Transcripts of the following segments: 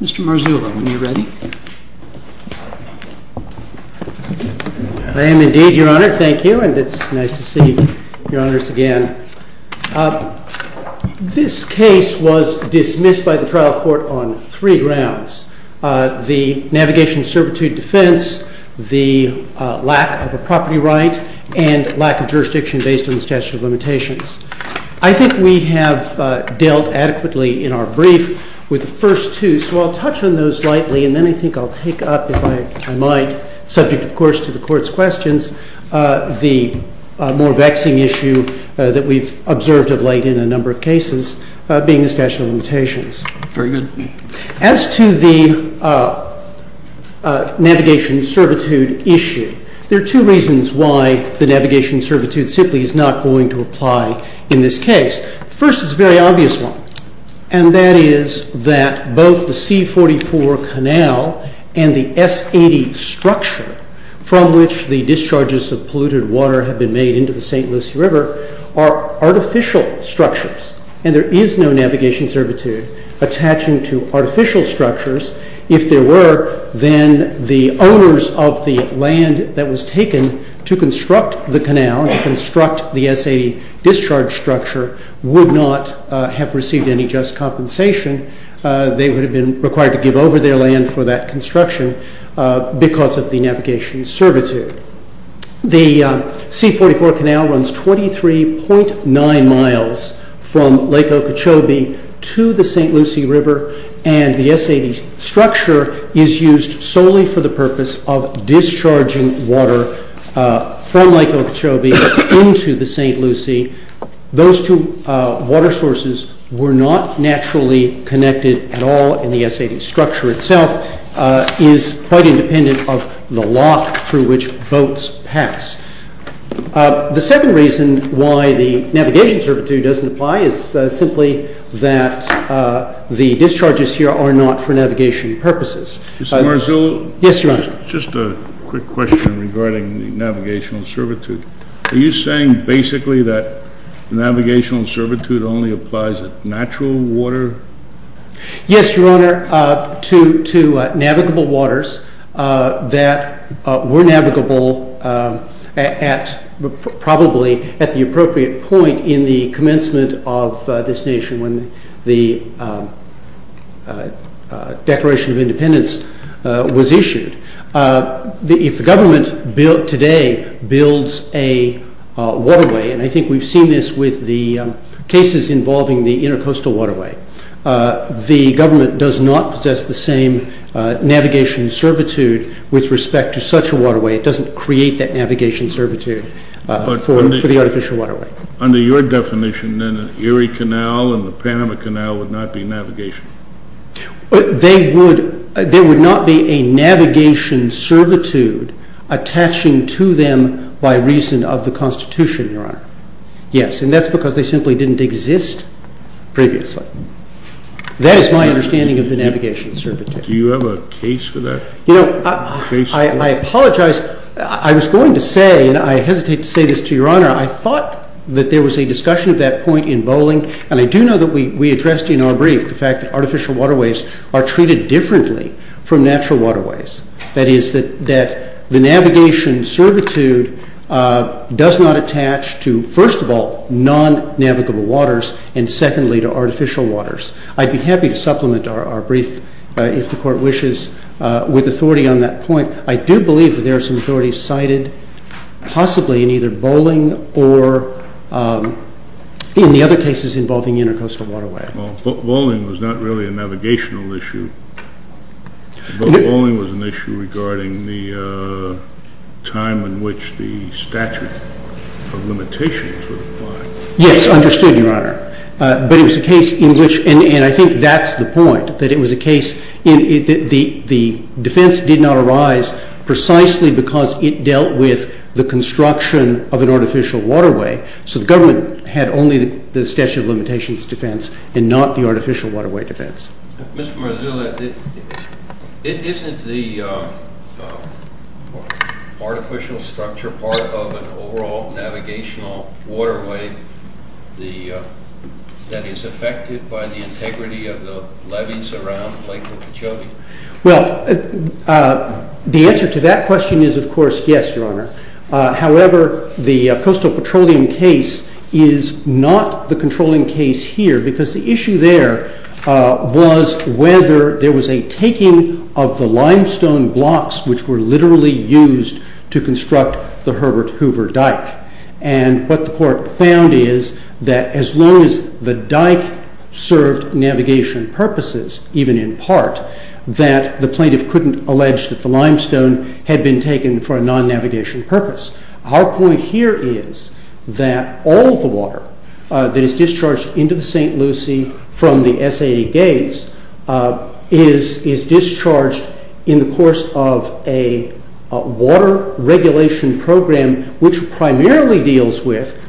Mr. Marzullo, when you're ready. MR. MARZULLO v. United States I am indeed, Your Honor. Thank you, and it's nice to see Your Honors again. This case was dismissed by the trial court on three grounds, the navigation of servitude defense, the lack of a property right, and lack of jurisdiction based on the statute of limitations. I think we have dealt adequately in our brief with the first two, so I'll touch on those slightly, and then I think I'll take up, if I might, subject, of course, to the Court's questions, the more vexing issue that we've observed of late in a number of cases, being the statute of limitations. Very good. As to the navigation of servitude issue, there are two reasons why the navigation of servitude simply is not going to apply in this case. First is a very obvious one, and that is that both the C-44 canal and the S-80 structure from which the discharges of polluted water have been made into the St. Lucie River are artificial structures, and there is no navigation of servitude attaching to artificial structures. If there were, then the owners of the land that was taken to construct the canal, to construct the S-80 discharge structure, would not have received any just compensation. They would have been required to give over their land for that construction because of the navigation of servitude. The C-44 canal runs 23.9 miles from Lake Okeechobee to the St. Lucie River, and the S-80 structure is used solely for the purpose of discharging water from Lake Okeechobee into the St. Lucie. Those two water sources were not naturally connected at all in the S-80 structure itself. It is quite independent of the lock through which boats pass. The second reason why the navigation of servitude doesn't apply is simply that the discharges here are not for navigation purposes. Mr. Marzullo? Yes, Your Honor. Just a quick question regarding the navigation of servitude. Are you saying basically that the navigation of servitude only applies at natural water? Yes, Your Honor, to navigable waters that were navigable probably at the appropriate point in the commencement of this nation when the Declaration of Independence was issued. If the government today builds a waterway, and I think we've seen this with the cases involving the intercoastal waterway, the government does not possess the same navigation of servitude with respect to such a waterway. It doesn't create that navigation of servitude for the artificial waterway. Under your definition, then the Erie Canal and the Panama Canal would not be navigation? There would not be a navigation servitude attaching to them by reason of the Constitution, Your Honor. Yes, and that's because they simply didn't exist previously. That is my understanding of the navigation of servitude. Do you have a case for that? You know, I apologize. I was going to say, and I hesitate to say this to Your Honor, I thought that there was a discussion at that point in Bowling, and I do know that we addressed in our brief the fact that artificial waterways are treated differently from natural waterways. That is that the navigation servitude does not attach to, first of all, non-navigable waters, and secondly, to artificial waters. I'd be happy to supplement our brief, if the Court wishes, with authority on that point. I do believe that there are some authorities cited, possibly in either Bowling or in the other cases involving intercoastal waterways. Well, Bowling was not really a navigational issue. Bowling was an issue regarding the time in which the statute of limitations was applied. Yes, understood, Your Honor. But it was a case in which, and I think that's the point, that it was a case in which the defense did not arise precisely because it dealt with the construction of an artificial waterway. So the government had only the statute of limitations defense and not the artificial waterway defense. Mr. Marzullo, isn't the artificial structure part of an overall navigational waterway that is affected by the integrity of the levees around Lake Okeechobee? Well, the answer to that question is, of course, yes, Your Honor. However, the coastal petroleum case is not the controlling case here because the issue there was whether there was a taking of the limestone blocks which were literally used to construct the Herbert Hoover dike. And what the court found is that as long as the dike served navigation purposes, even in part, that the plaintiff couldn't allege that the limestone had been taken for a non-navigation purpose. Our point here is that all the water that is discharged into the St. Lucie from the SAA gates is discharged in the course of a water regulation program which primarily deals with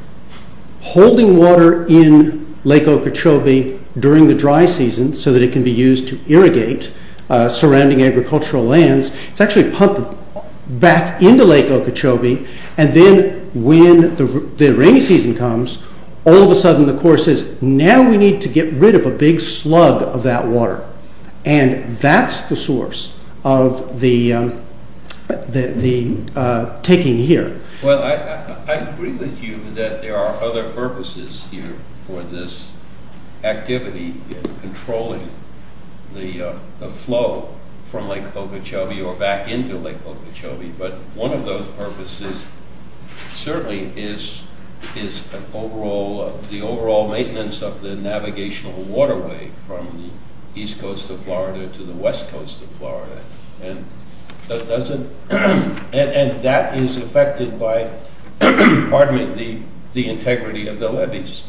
holding water in Lake Okeechobee during the dry season so that it can be used to irrigate surrounding agricultural lands. It's actually pumped back into Lake Okeechobee, and then when the rainy season comes, all of a sudden the court says, now we need to get rid of a big slug of that water. And that's the source of the taking here. Well, I agree with you that there are other purposes here for this activity in controlling the flow from Lake Okeechobee or back into Lake Okeechobee, but one of those purposes certainly is the overall maintenance of the navigational waterway from the east coast of Florida to the west coast of Florida. And that is affected by the integrity of the levees.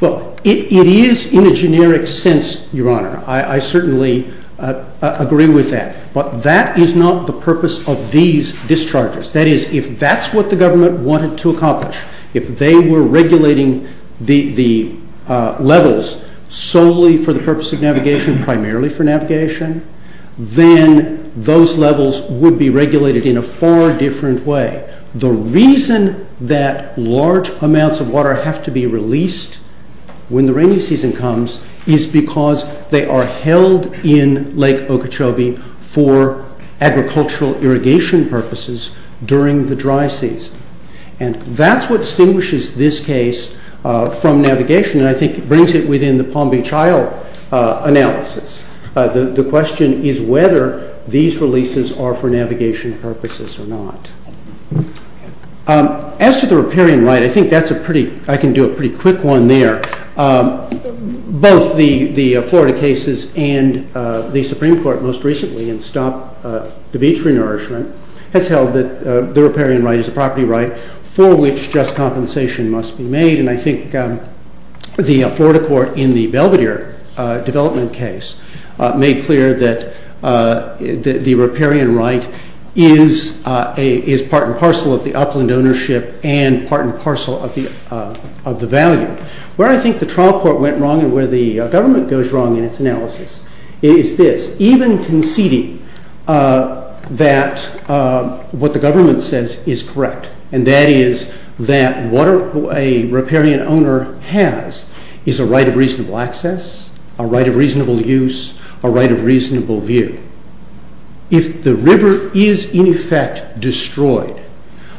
Well, it is in a generic sense, Your Honor. I certainly agree with that. But that is not the purpose of these discharges. That is, if that's what the government wanted to accomplish, if they were regulating the levels solely for the purpose of navigation, primarily for navigation, then those levels would be regulated in a far different way. The reason that large amounts of water have to be released when the rainy season comes is because they are held in Lake Okeechobee for agricultural irrigation purposes during the dry season. And that's what distinguishes this case from navigation, and I think brings it within the Palm Beach Isle analysis. The question is whether these releases are for navigation purposes or not. As to the riparian right, I think I can do a pretty quick one there. Both the Florida cases and the Supreme Court most recently in Stop the Beach Renourishment has held that the riparian right is a property right for which just compensation must be made. And I think the Florida court in the Belvedere development case made clear that the riparian right is part and parcel of the upland ownership and part and parcel of the value. Where I think the trial court went wrong and where the government goes wrong in its analysis is this, even conceding that what the government says is correct, and that is that what a riparian owner has is a right of reasonable access, a right of reasonable use, a right of reasonable view. If the river is in effect destroyed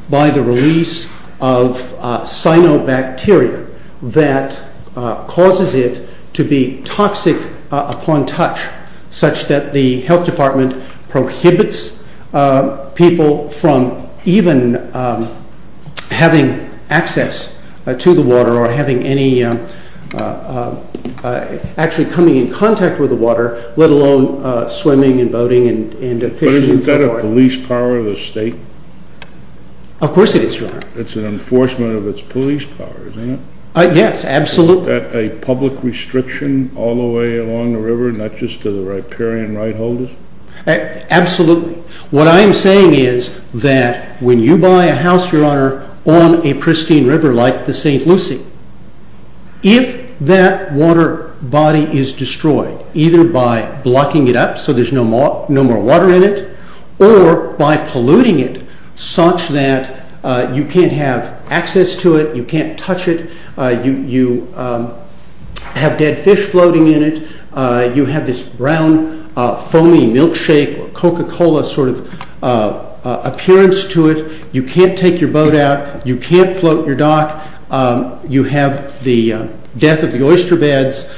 by the release of cyanobacteria that causes it to be toxic upon touch such that the health department prohibits people from even having access to the water or actually coming in contact with the water, let alone swimming and boating and fishing and so forth. But isn't that a police power of the state? Of course it is, Your Honor. It's an enforcement of its police power, isn't it? Yes, absolutely. Is that a public restriction all the way along the river, not just to the riparian right holders? Absolutely. What I am saying is that when you buy a house, Your Honor, on a pristine river like the St. Lucie, if that water body is destroyed either by blocking it up so there's no more water in it or by polluting it such that you can't have access to it, you can't touch it, you have dead fish floating in it, you have this brown foamy milkshake or Coca-Cola sort of appearance to it, you can't take your boat out, you can't float your dock, you have the death of the oyster beds,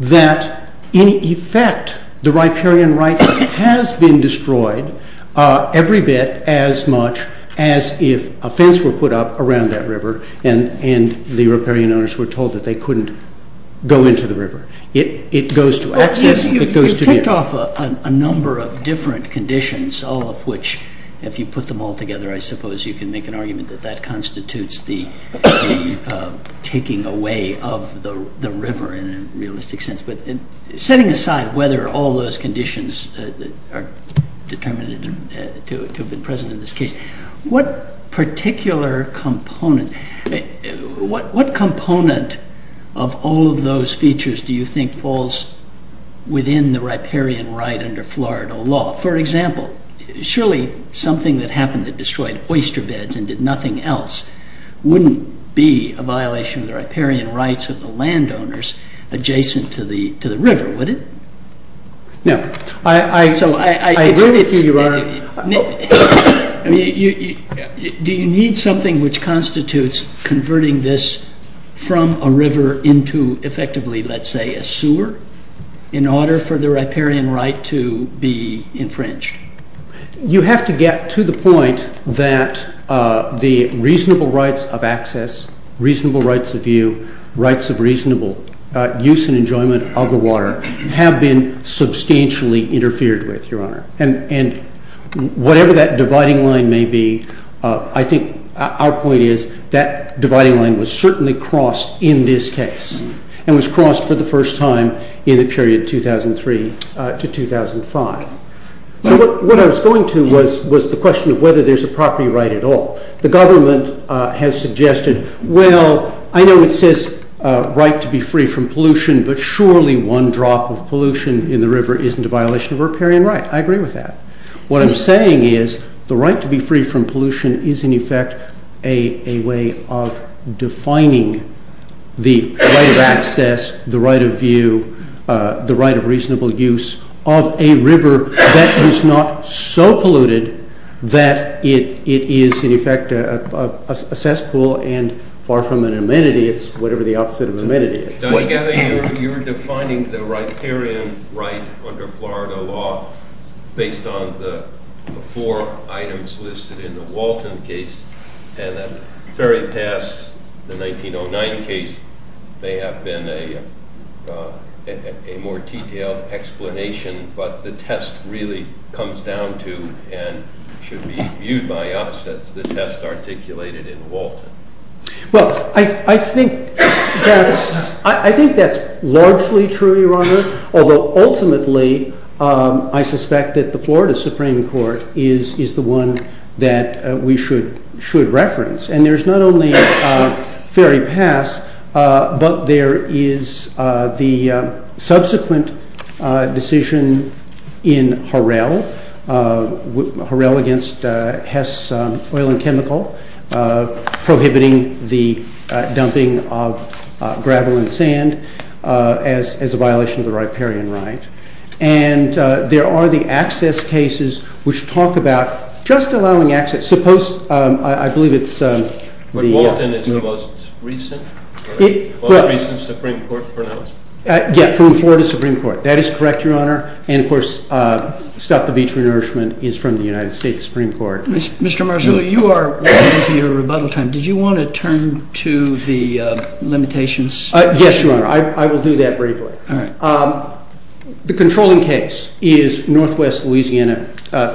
that in effect the riparian right has been destroyed every bit as much as if a fence were put up around that river and the riparian owners were told that they couldn't go into the river. It goes to access. You've ticked off a number of different conditions, all of which if you put them all together I suppose you can make an argument that that constitutes the taking away of the river in a realistic sense. But setting aside whether all those conditions are determined to have been present in this case, what particular component, what component of all of those features do you think falls within the riparian right under Florida law? Well, for example, surely something that happened that destroyed oyster beds and did nothing else wouldn't be a violation of the riparian rights of the landowners adjacent to the river, would it? I agree with you, Your Honor. Do you need something which constitutes converting this from a river into effectively let's say a sewer in order for the riparian right to be infringed? You have to get to the point that the reasonable rights of access, reasonable rights of view, rights of reasonable use and enjoyment of the water have been substantially interfered with, Your Honor. And whatever that dividing line may be, I think our point is that dividing line was certainly crossed in this case and was crossed for the first time in the period 2003 to 2005. So what I was going to was the question of whether there's a property right at all. The government has suggested, well, I know it says right to be free from pollution, but surely one drop of pollution in the river isn't a violation of riparian right. I agree with that. What I'm saying is the right to be free from pollution is in effect a way of defining the right of access, the right of view, the right of reasonable use of a river that is not so polluted that it is in effect a cesspool and far from an amenity, it's whatever the opposite of amenity is. You're defining the riparian right under Florida law based on the four items listed in the Walton case and then very past the 1909 case, they have been a more detailed explanation, but the test really comes down to and should be viewed by us as the test articulated in Walton. Although ultimately I suspect that the Florida Supreme Court is the one that we should reference. And there's not only very past, but there is the subsequent decision in Harrell, Harrell against Hess Oil and Chemical, prohibiting the dumping of gravel and sand as a violation of the riparian right. And there are the access cases which talk about just allowing access, suppose, I believe it's the... But Walton is the most recent, the most recent Supreme Court pronouncement. Yeah, from Florida Supreme Court. That is correct, Your Honor, and of course Stop the Beach Renourishment is from the United States Supreme Court. Mr. Marzullo, you are running into your rebuttal time. Did you want to turn to the limitations? Yes, Your Honor, I will do that briefly. All right. The controlling case is Northwest Louisiana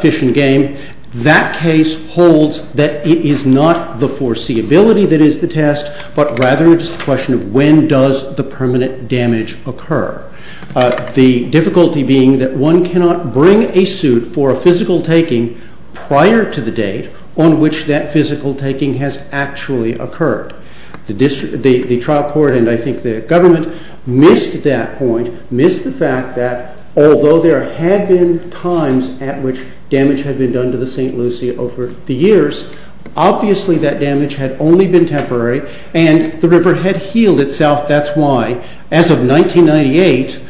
Fish and Game. That case holds that it is not the foreseeability that is the test, but rather it's the question of when does the permanent damage occur? The difficulty being that one cannot bring a suit for a physical taking prior to the date on which that physical taking has actually occurred. The trial court and I think the government missed that point, missed the fact that although there had been times at which damage had been done to the St. Lucie over the years, obviously that damage had only been temporary and the river had healed itself. That's why, as of 1998,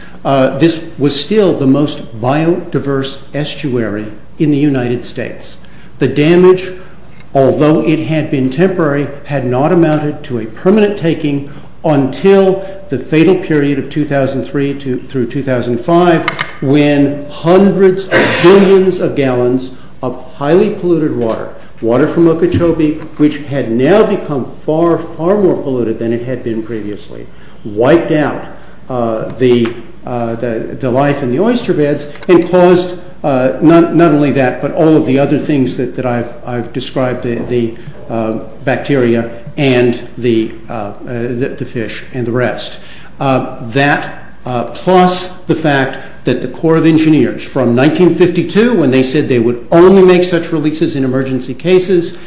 this was still the most biodiverse estuary in the United States. The damage, although it had been temporary, had not amounted to a permanent taking until the fatal period of 2003 through 2005 when hundreds of billions of gallons of highly polluted water, water from Okeechobee, which had now become far, far more polluted than it had been previously, wiped out the life in the oyster beds and caused not only that but all of the other things that I've described, the bacteria and the fish and the rest. That plus the fact that the Corps of Engineers from 1952 when they said they would only make such releases in emergency cases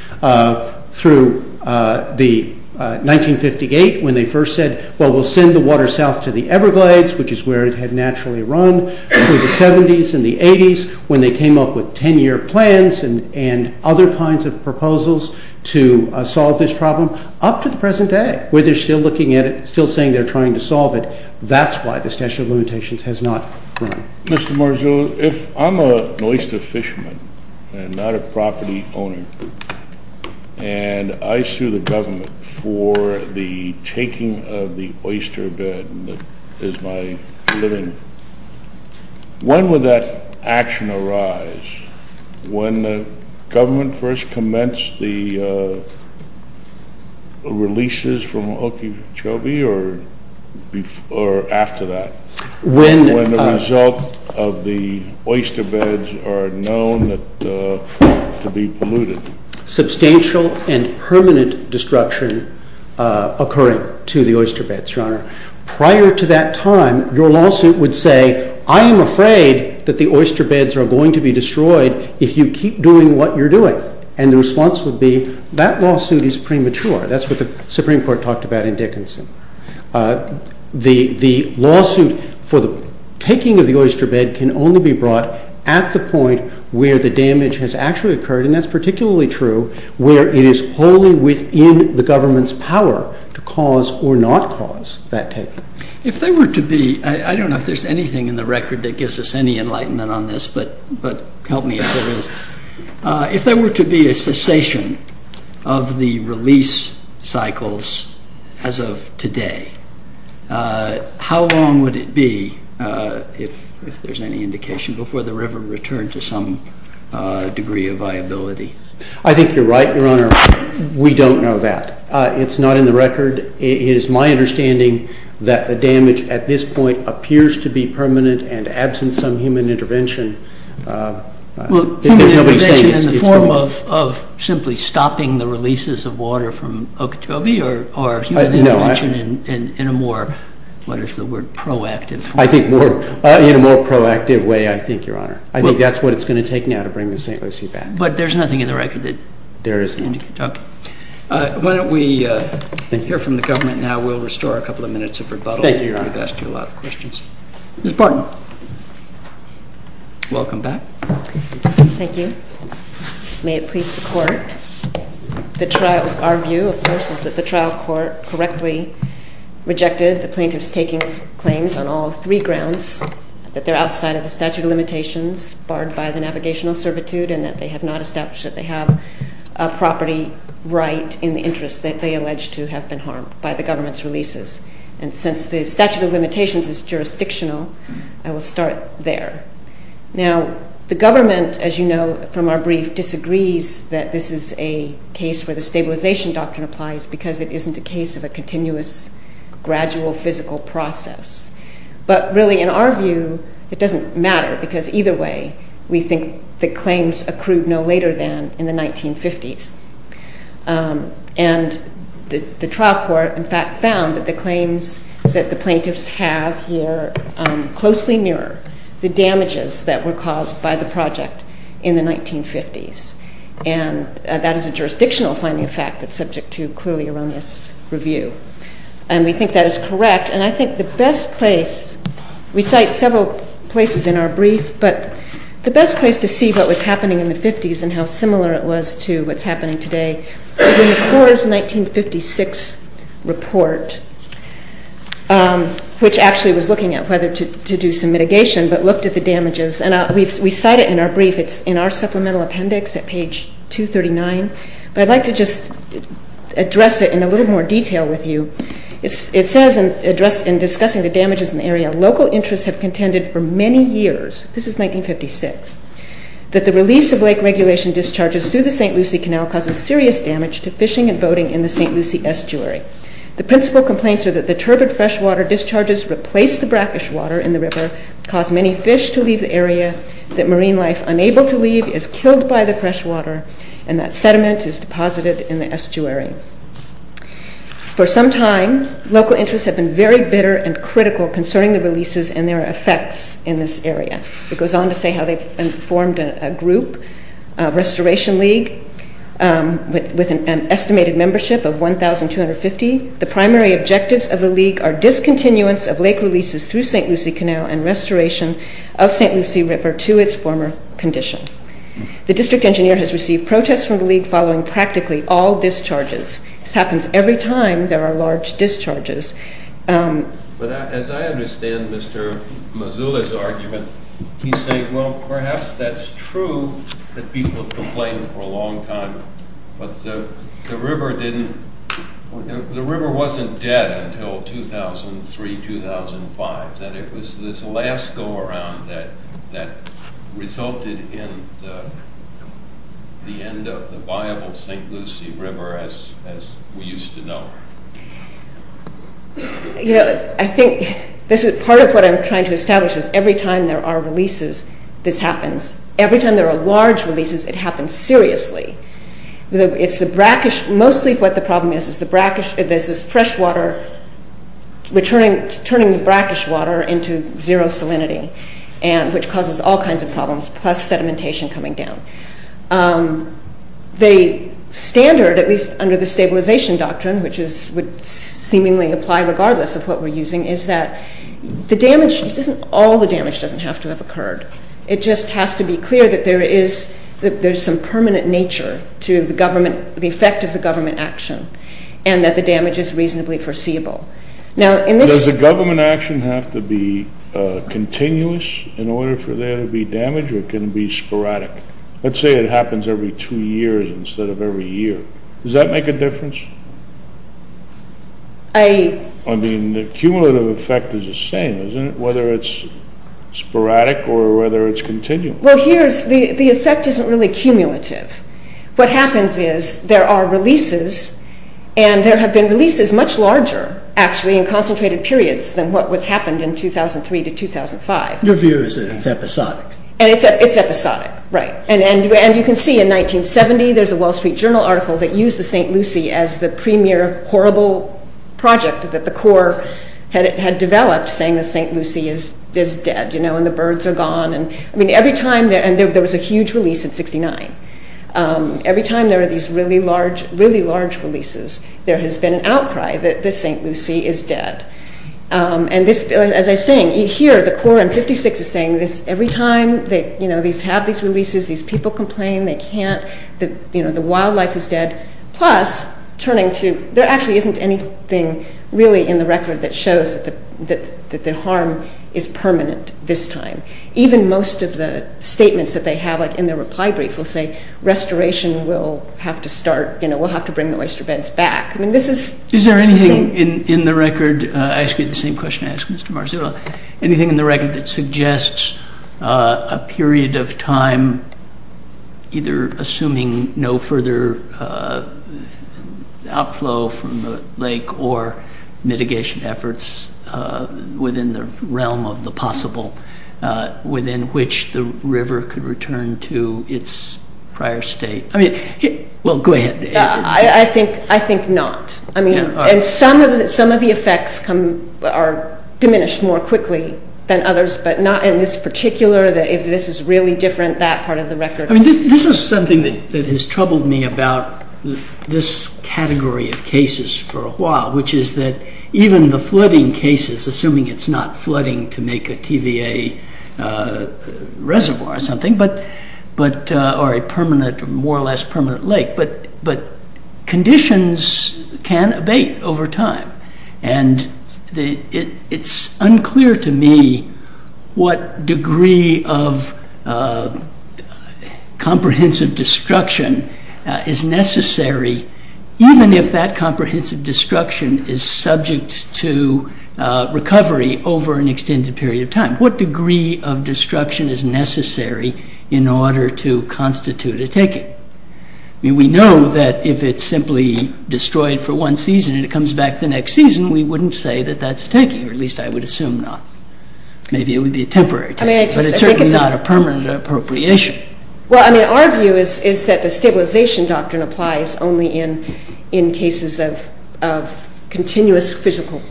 through 1958 when they first said, well, we'll send the water south to the Everglades, which is where it had naturally run, through the 70s and the 80s when they came up with 10-year plans and other kinds of proposals to solve this problem up to the present day where they're still looking at it, still saying they're trying to solve it. That's why the Statute of Limitations has not run. Mr. Marzullo, if I'm an oyster fisherman and not a property owner and I sue the government for the taking of the oyster bed that is my living, when would that action arise? When the government first commenced the releases from Okeechobee or after that? When the result of the oyster beds are known to be polluted? Substantial and permanent destruction occurring to the oyster beds, Your Honor. Prior to that time, your lawsuit would say, I am afraid that the oyster beds are going to be destroyed if you keep doing what you're doing. And the response would be, that lawsuit is premature. That's what the Supreme Court talked about in Dickinson. The lawsuit for the taking of the oyster bed can only be brought at the point where the damage has actually occurred, and that's particularly true where it is wholly within the government's power to cause or not cause that taking. If there were to be, I don't know if there's anything in the record that gives us any enlightenment on this, but help me if there is. If there were to be a cessation of the release cycles as of today, how long would it be, if there's any indication, before the river returned to some degree of viability? I think you're right, Your Honor. We don't know that. It's not in the record. It is my understanding that the damage at this point appears to be permanent and absent some human intervention. Well, human intervention in the form of simply stopping the releases of water from Okeechobee or human intervention in a more, what is the word, proactive form? I think in a more proactive way, I think, Your Honor. I think that's what it's going to take now to bring the St. Lucie back. But there's nothing in the record that would lead to Okeechobee. There is nothing. Okay. Why don't we hear from the government now? We'll restore a couple of minutes of rebuttal. Thank you, Your Honor. We've asked you a lot of questions. Ms. Barton. Welcome back. Thank you. May it please the Court. Our view, of course, is that the trial court correctly rejected the plaintiff's taking claims on all three grounds, that they're outside of the statute of limitations, barred by the navigational servitude, and that they have not established that they have a property right in the interest that they allege to have been harmed by the government's releases. And since the statute of limitations is jurisdictional, I will start there. Now, the government, as you know from our brief, disagrees that this is a case where the stabilization doctrine applies because it isn't a case of a continuous, gradual, physical process. But really, in our view, it doesn't matter because either way, we think the claims accrued no later than in the 1950s. And the trial court, in fact, found that the claims that the plaintiffs have here closely mirror the damages that were caused by the project in the 1950s. And that is a jurisdictional finding, in fact, that's subject to clearly erroneous review. And we think that is correct. And I think the best place we cite several places in our brief, but the best place to see what was happening in the 50s and how similar it was to what's happening today, is in the Coors 1956 report, which actually was looking at whether to do some mitigation, but looked at the damages. And we cite it in our brief. It's in our supplemental appendix at page 239. But I'd like to just address it in a little more detail with you. It says in discussing the damages in the area, local interests have contended for many years, this is 1956, that the release of lake regulation discharges through the St. Lucie Canal causes serious damage to fishing and boating in the St. Lucie estuary. The principal complaints are that the turbid freshwater discharges replace the brackish water in the river, cause many fish to leave the area, that marine life unable to leave is killed by the freshwater, and that sediment is deposited in the estuary. For some time, local interests have been very bitter and critical concerning the releases and their effects in this area. It goes on to say how they've formed a group, Restoration League, with an estimated membership of 1,250. The primary objectives of the League are discontinuance of lake releases through St. Lucie Canal and restoration of St. Lucie River to its former condition. The district engineer has received protests from the League following practically all discharges. This happens every time there are large discharges. But as I understand Mr. Mazula's argument, he's saying, well, perhaps that's true, that people have complained for a long time, but the river didn't, the river wasn't dead until 2003, 2005, that it was this last go-around that resulted in the end of the viable St. Lucie River as we used to know. You know, I think, this is part of what I'm trying to establish, is every time there are releases, this happens. Every time there are large releases, it happens seriously. It's the brackish, mostly what the problem is, is the brackish, there's this freshwater returning, turning the brackish water into zero salinity, which causes all kinds of problems, plus sedimentation coming down. The standard, at least under the stabilization doctrine, which would seemingly apply regardless of what we're using, is that the damage, all the damage doesn't have to have occurred. It just has to be clear that there is, that there's some permanent nature to the government, the effect of the government action, and that the damage is reasonably foreseeable. Now, in this... Does the government action have to be continuous in order for there to be damage, or can it be sporadic? Let's say it happens every two years instead of every year. Does that make a difference? I... I mean, the cumulative effect is the same, isn't it? Whether it's sporadic or whether it's continuous. Well, here, the effect isn't really cumulative. What happens is, there are releases, and there have been releases much larger, actually, in concentrated periods than what happened in 2003 to 2005. Your view is that it's episodic. And it's episodic, right. And you can see, in 1970, there's a Wall Street Journal article that used the St. Lucie as the premier horrible project that the Corps had developed, saying that St. Lucie is dead, you know, and the birds are gone. I mean, every time... And there was a huge release in 69. Every time there were these really large releases, there has been an outcry that the St. Lucie is dead. And this... As I was saying, here, the Corps in 56 is saying this. Every time, you know, they have these releases, these people complain, they can't... You know, the wildlife is dead. Plus, turning to... There actually isn't anything, really, in the record that shows that the harm is permanent this time. Even most of the statements that they have, like in the reply brief, will say, restoration will have to start, you know, we'll have to bring the oyster beds back. I mean, this is... Is there anything in the record... I asked you the same question I asked Mr. Marzullo. Anything in the record that suggests a period of time, either assuming no further outflow from the lake or mitigation efforts within the realm of the possible, within which the river could return to its prior state? I mean... Well, go ahead. I think not. I mean, some of the effects are diminished more quickly than others, but not in this particular... If this is really different, that part of the record... I mean, this is something that has troubled me about this category of cases for a while, which is that even the flooding cases, assuming it's not flooding to make a TVA reservoir or something, or a permanent, more or less permanent lake, but conditions can abate over time. And it's unclear to me what degree of comprehensive destruction is necessary, even if that comprehensive destruction is subject to recovery over an extended period of time. What degree of destruction is necessary in order to constitute a taking? I mean, we know that if it's simply destroyed for one season and it comes back the next season, we wouldn't say that that's a taking, or at least I would assume not. Maybe it would be a temporary taking, but it's certainly not a permanent appropriation. Well, I mean, our view is that the stabilization doctrine applies only in cases of continuous physical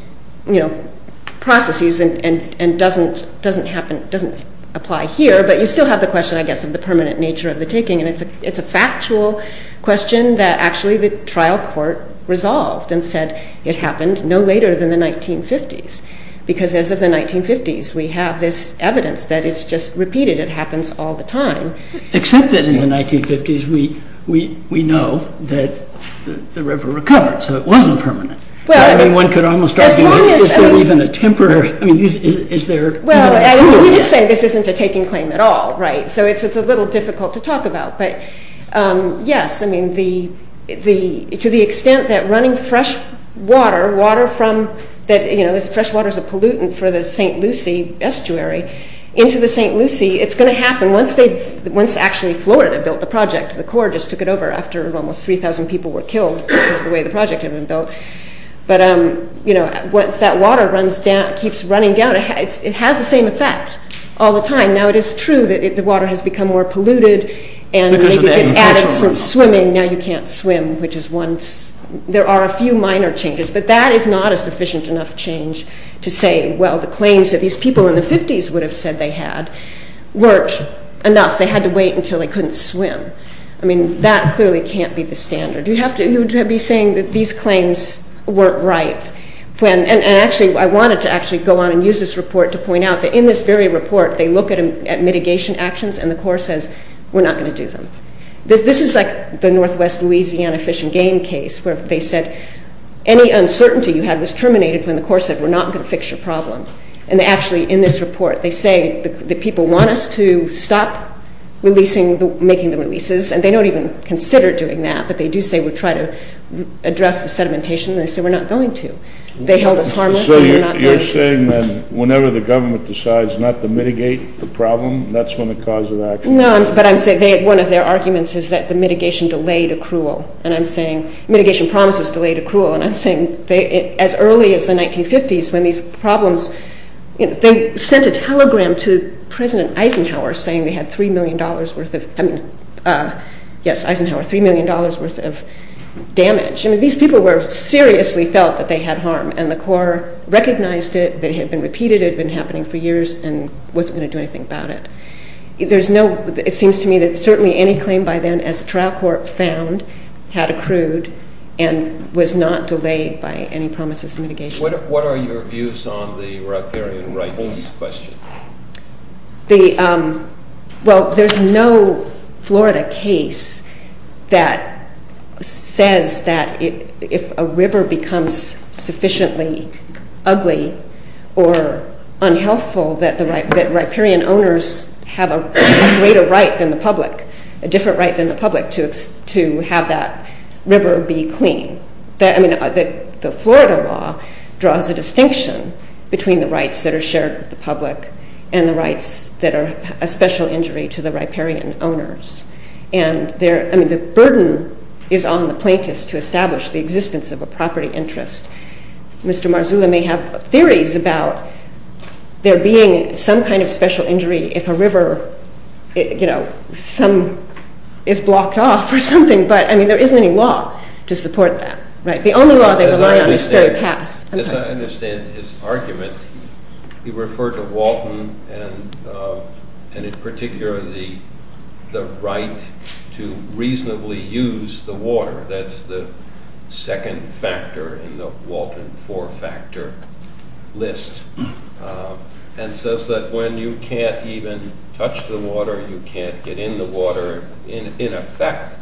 processes and doesn't apply here, but you still have the question, I guess, of the permanent nature of the taking, and it's a factual question that actually the trial court resolved and said it happened no later than the 1950s, because as of the 1950s, we have this evidence that it's just repeated. It happens all the time. Except that in the 1950s, we know that the river recovered, so it wasn't permanent. I mean, one could almost argue, was there even a temporary... I mean, is there... Well, we could say this isn't a taking claim at all, right? So it's a little difficult to talk about, but yes, I mean, to the extent that running fresh water, water from... Fresh water is a pollutant for the St. Lucie estuary. Into the St. Lucie, it's going to happen. Once actually Florida built the project, the Corps just took it over after almost 3,000 people were killed because of the way the project had been built, but once that water keeps running down, it has the same effect all the time. Now, it is true that the water has become more polluted, and maybe it's added some swimming. Now you can't swim, which is one... There are a few minor changes, but that is not a sufficient enough change to say, well, the claims that these people in the 50s would have said they had weren't enough. They had to wait until they couldn't swim. I mean, that clearly can't be the standard. You'd have to be saying that these claims weren't right. And actually, I wanted to actually go on and use this report to point out that in this very report, they look at mitigation actions, and the Corps says, we're not going to do them. This is like the Northwest Louisiana Fish and Game case where they said, any uncertainty you had was terminated when the Corps said, we're not going to fix your problem. And actually, in this report, they say that people want us to stop making the releases, and they don't even consider doing that, but they do say, we'll try to address the sedimentation, and they say, we're not going to. They held us harmless, and we're not going to. So you're saying that whenever the government decides not to mitigate the problem, that's when the cause of action is? No, but I'm saying one of their arguments is that the mitigation delayed accrual, and I'm saying mitigation promises delayed accrual, and I'm saying as early as the 1950s, when these problems, you know, they sent a telegram to President Eisenhower saying they had $3 million worth of, I mean, yes, Eisenhower, $3 million worth of damage. I mean, these people were seriously felt that they had harm, and the Corps recognized it, that it had been repeated, it had been happening for years, and wasn't going to do anything about it. There's no, it seems to me that certainly any claim by then, as the trial court found, had accrued and was not delayed by any promises of mitigation. What are your views on the riparian rights question? The, well, there's no Florida case that says that if a river becomes sufficiently ugly or unhealthful that the riparian owners have a greater right than the public, a different right than the public to have that river be clean. I mean, the Florida law draws a distinction between the rights that are shared with the public and the rights that are a special injury to the riparian owners. And there, I mean, the burden is on the plaintiffs to establish the existence of a property interest. Mr. Marzullo may have theories about there being some kind of special injury if a river, you know, some, is blocked off or something, but, I mean, there isn't any law to support that, right? The only law they rely on is Ferry Pass. As I understand his argument, he referred to Walton and, in particular, the right to reasonably use the water. That's the second factor in the Walton four-factor list. And says that when you can't even touch the water, you can't get in the water, in effect,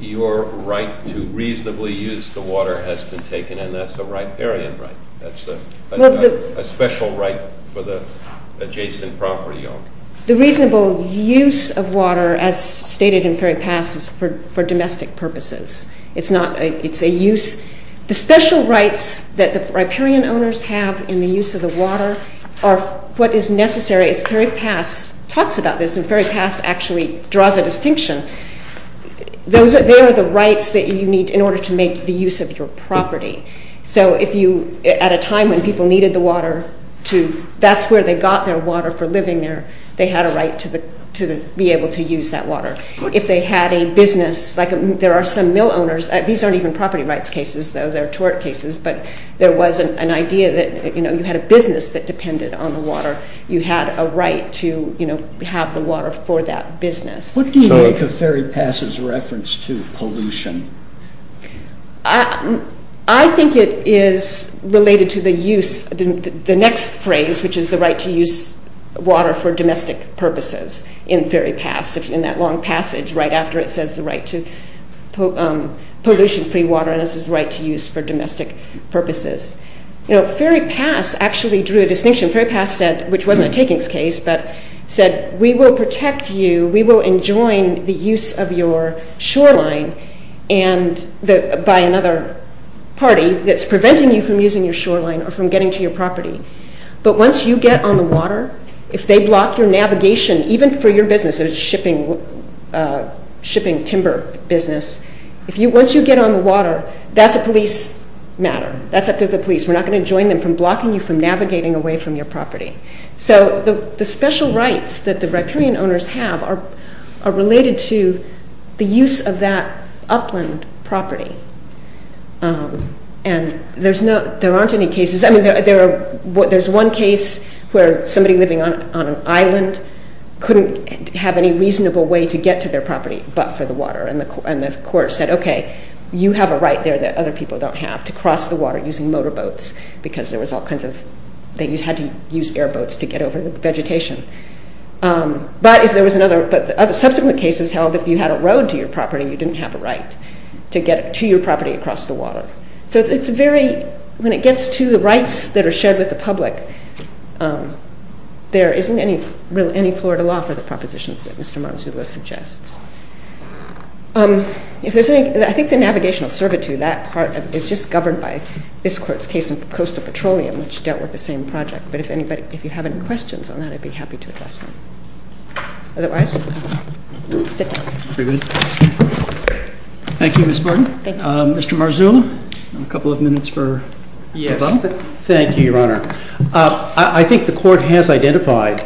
your right to reasonably use the water has been taken, and that's a riparian right. That's not a special right for the adjacent property owner. The reasonable use of water, as stated in Ferry Pass, is for domestic purposes. It's a use. The special rights that the riparian owners have in the use of the water are what is necessary. As Ferry Pass talks about this, and Ferry Pass actually draws a distinction, they are the rights that you need in order to make the use of your property. So if you, at a time when people needed the water, that's where they got their water for living there. They had a right to be able to use that water. If they had a business, like there are some mill owners, these aren't even property rights cases, though, they're tort cases, but there was an idea that you had a business that depended on the water. You had a right to have the water for that business. What do you make of Ferry Pass' reference to pollution? I think it is related to the use, the next phrase, which is the right to use water for domestic purposes in Ferry Pass, in that long passage right after it says the right to pollution-free water, and this is the right to use for domestic purposes. You know, Ferry Pass actually drew a distinction. Ferry Pass said, which wasn't a takings case, but said, we will protect you, we will enjoin the use of your shoreline by another party that's preventing you from using your shoreline or from getting to your property. But once you get on the water, if they block your navigation, even for your business, a shipping timber business, once you get on the water, that's a police matter. That's up to the police. We're not going to enjoin them from blocking you from navigating away from your property. So the special rights that the riparian owners have are related to the use of that upland property. And there aren't any cases, I mean, there's one case where somebody living on an island couldn't have any reasonable way to get to their property but for the water, and the court said, okay, you have a right there that other people don't have to cross the water using motorboats, because there was all kinds of, that you had to use airboats to get over the vegetation. But if there was another, subsequent cases held if you had a road to your property, you didn't have a right to get to your property across the water. So it's very, when it gets to the rights that are shared with the public, there isn't any Florida law for the propositions that Mr. Marzullo suggests. If there's any, I think the navigational servitude, that part is just governed by this court's case of coastal petroleum, which dealt with the same project. But if anybody, if you have any questions on that, I'd be happy to address them. Otherwise, sit down. Very good. Thank you, Ms. Martin. Thank you. Mr. Marzullo, a couple of minutes for Bob. Yes, thank you, Your Honor. I think the court has identified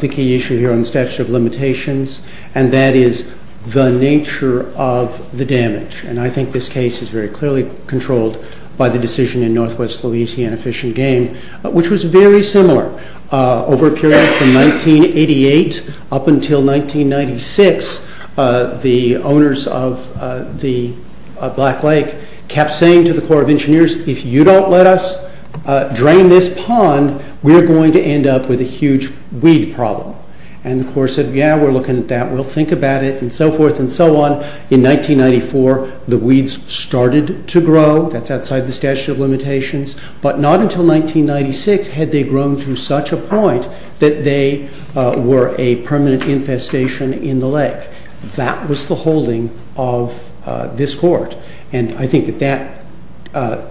the key issue here on the statute of limitations, and that is the nature of the damage. And I think this case is very clearly controlled by the decision in Northwest Louisiana Fish and Game, which was very similar. Over a period from 1988 up until 1996, the owners of the Black Lake kept saying to the Corps of Engineers, if you don't let us drain this pond, we're going to end up with a huge weed problem. And the Corps said, yeah, we're looking at that, we'll think about it, and so forth and so on. In 1994, the weeds started to grow. That's outside the statute of limitations. But not until 1996 had they grown to such a point that they were a permanent infestation in the lake. That was the holding of this court. And I think that that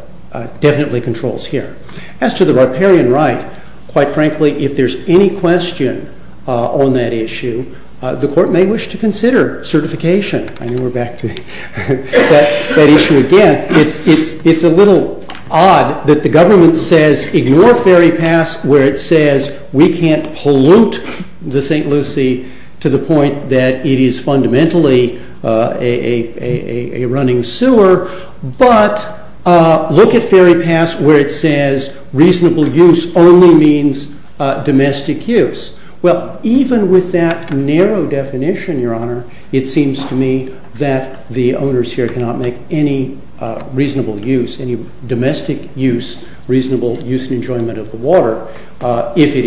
definitely controls here. As to the riparian right, quite frankly, if there's any question on that issue, the court may wish to consider certification. I know we're back to that issue again. It's a little odd that the government says ignore Ferry Pass where it says we can't pollute the St. Lucie to the point that it is fundamentally a running sewer, but look at Ferry Pass where it says reasonable use only means domestic use. Well, even with that narrow definition, Your Honor, it seems to me that the owners here cannot make any reasonable use, any domestic use, reasonable use and enjoyment of the water if it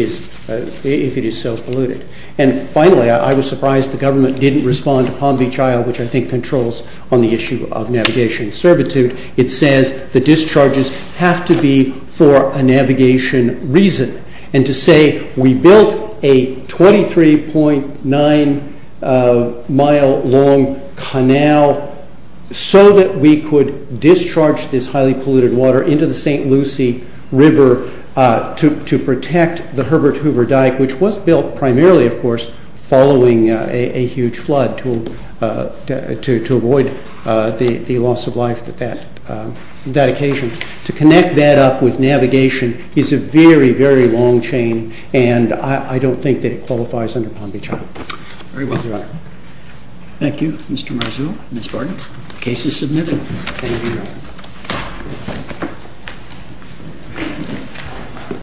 is so polluted. And finally, I was surprised the government didn't respond to Palm Beach Isle, which I think controls on the issue of navigation servitude. It says the discharges have to be for a navigation reason. And to say we built a 23.9 mile long canal so that we could discharge this highly polluted water into the St. Lucie River to protect the Herbert Hoover Dyke, which was built primarily, of course, following a huge flood to avoid the loss of life at that occasion, to connect that up with navigation is a very, very long chain and I don't think that it qualifies under Palm Beach Isle. Very well, Your Honor. Thank you, Mr. Marzullo, Ms. Barton. Case is submitted. Thank you, Your Honor.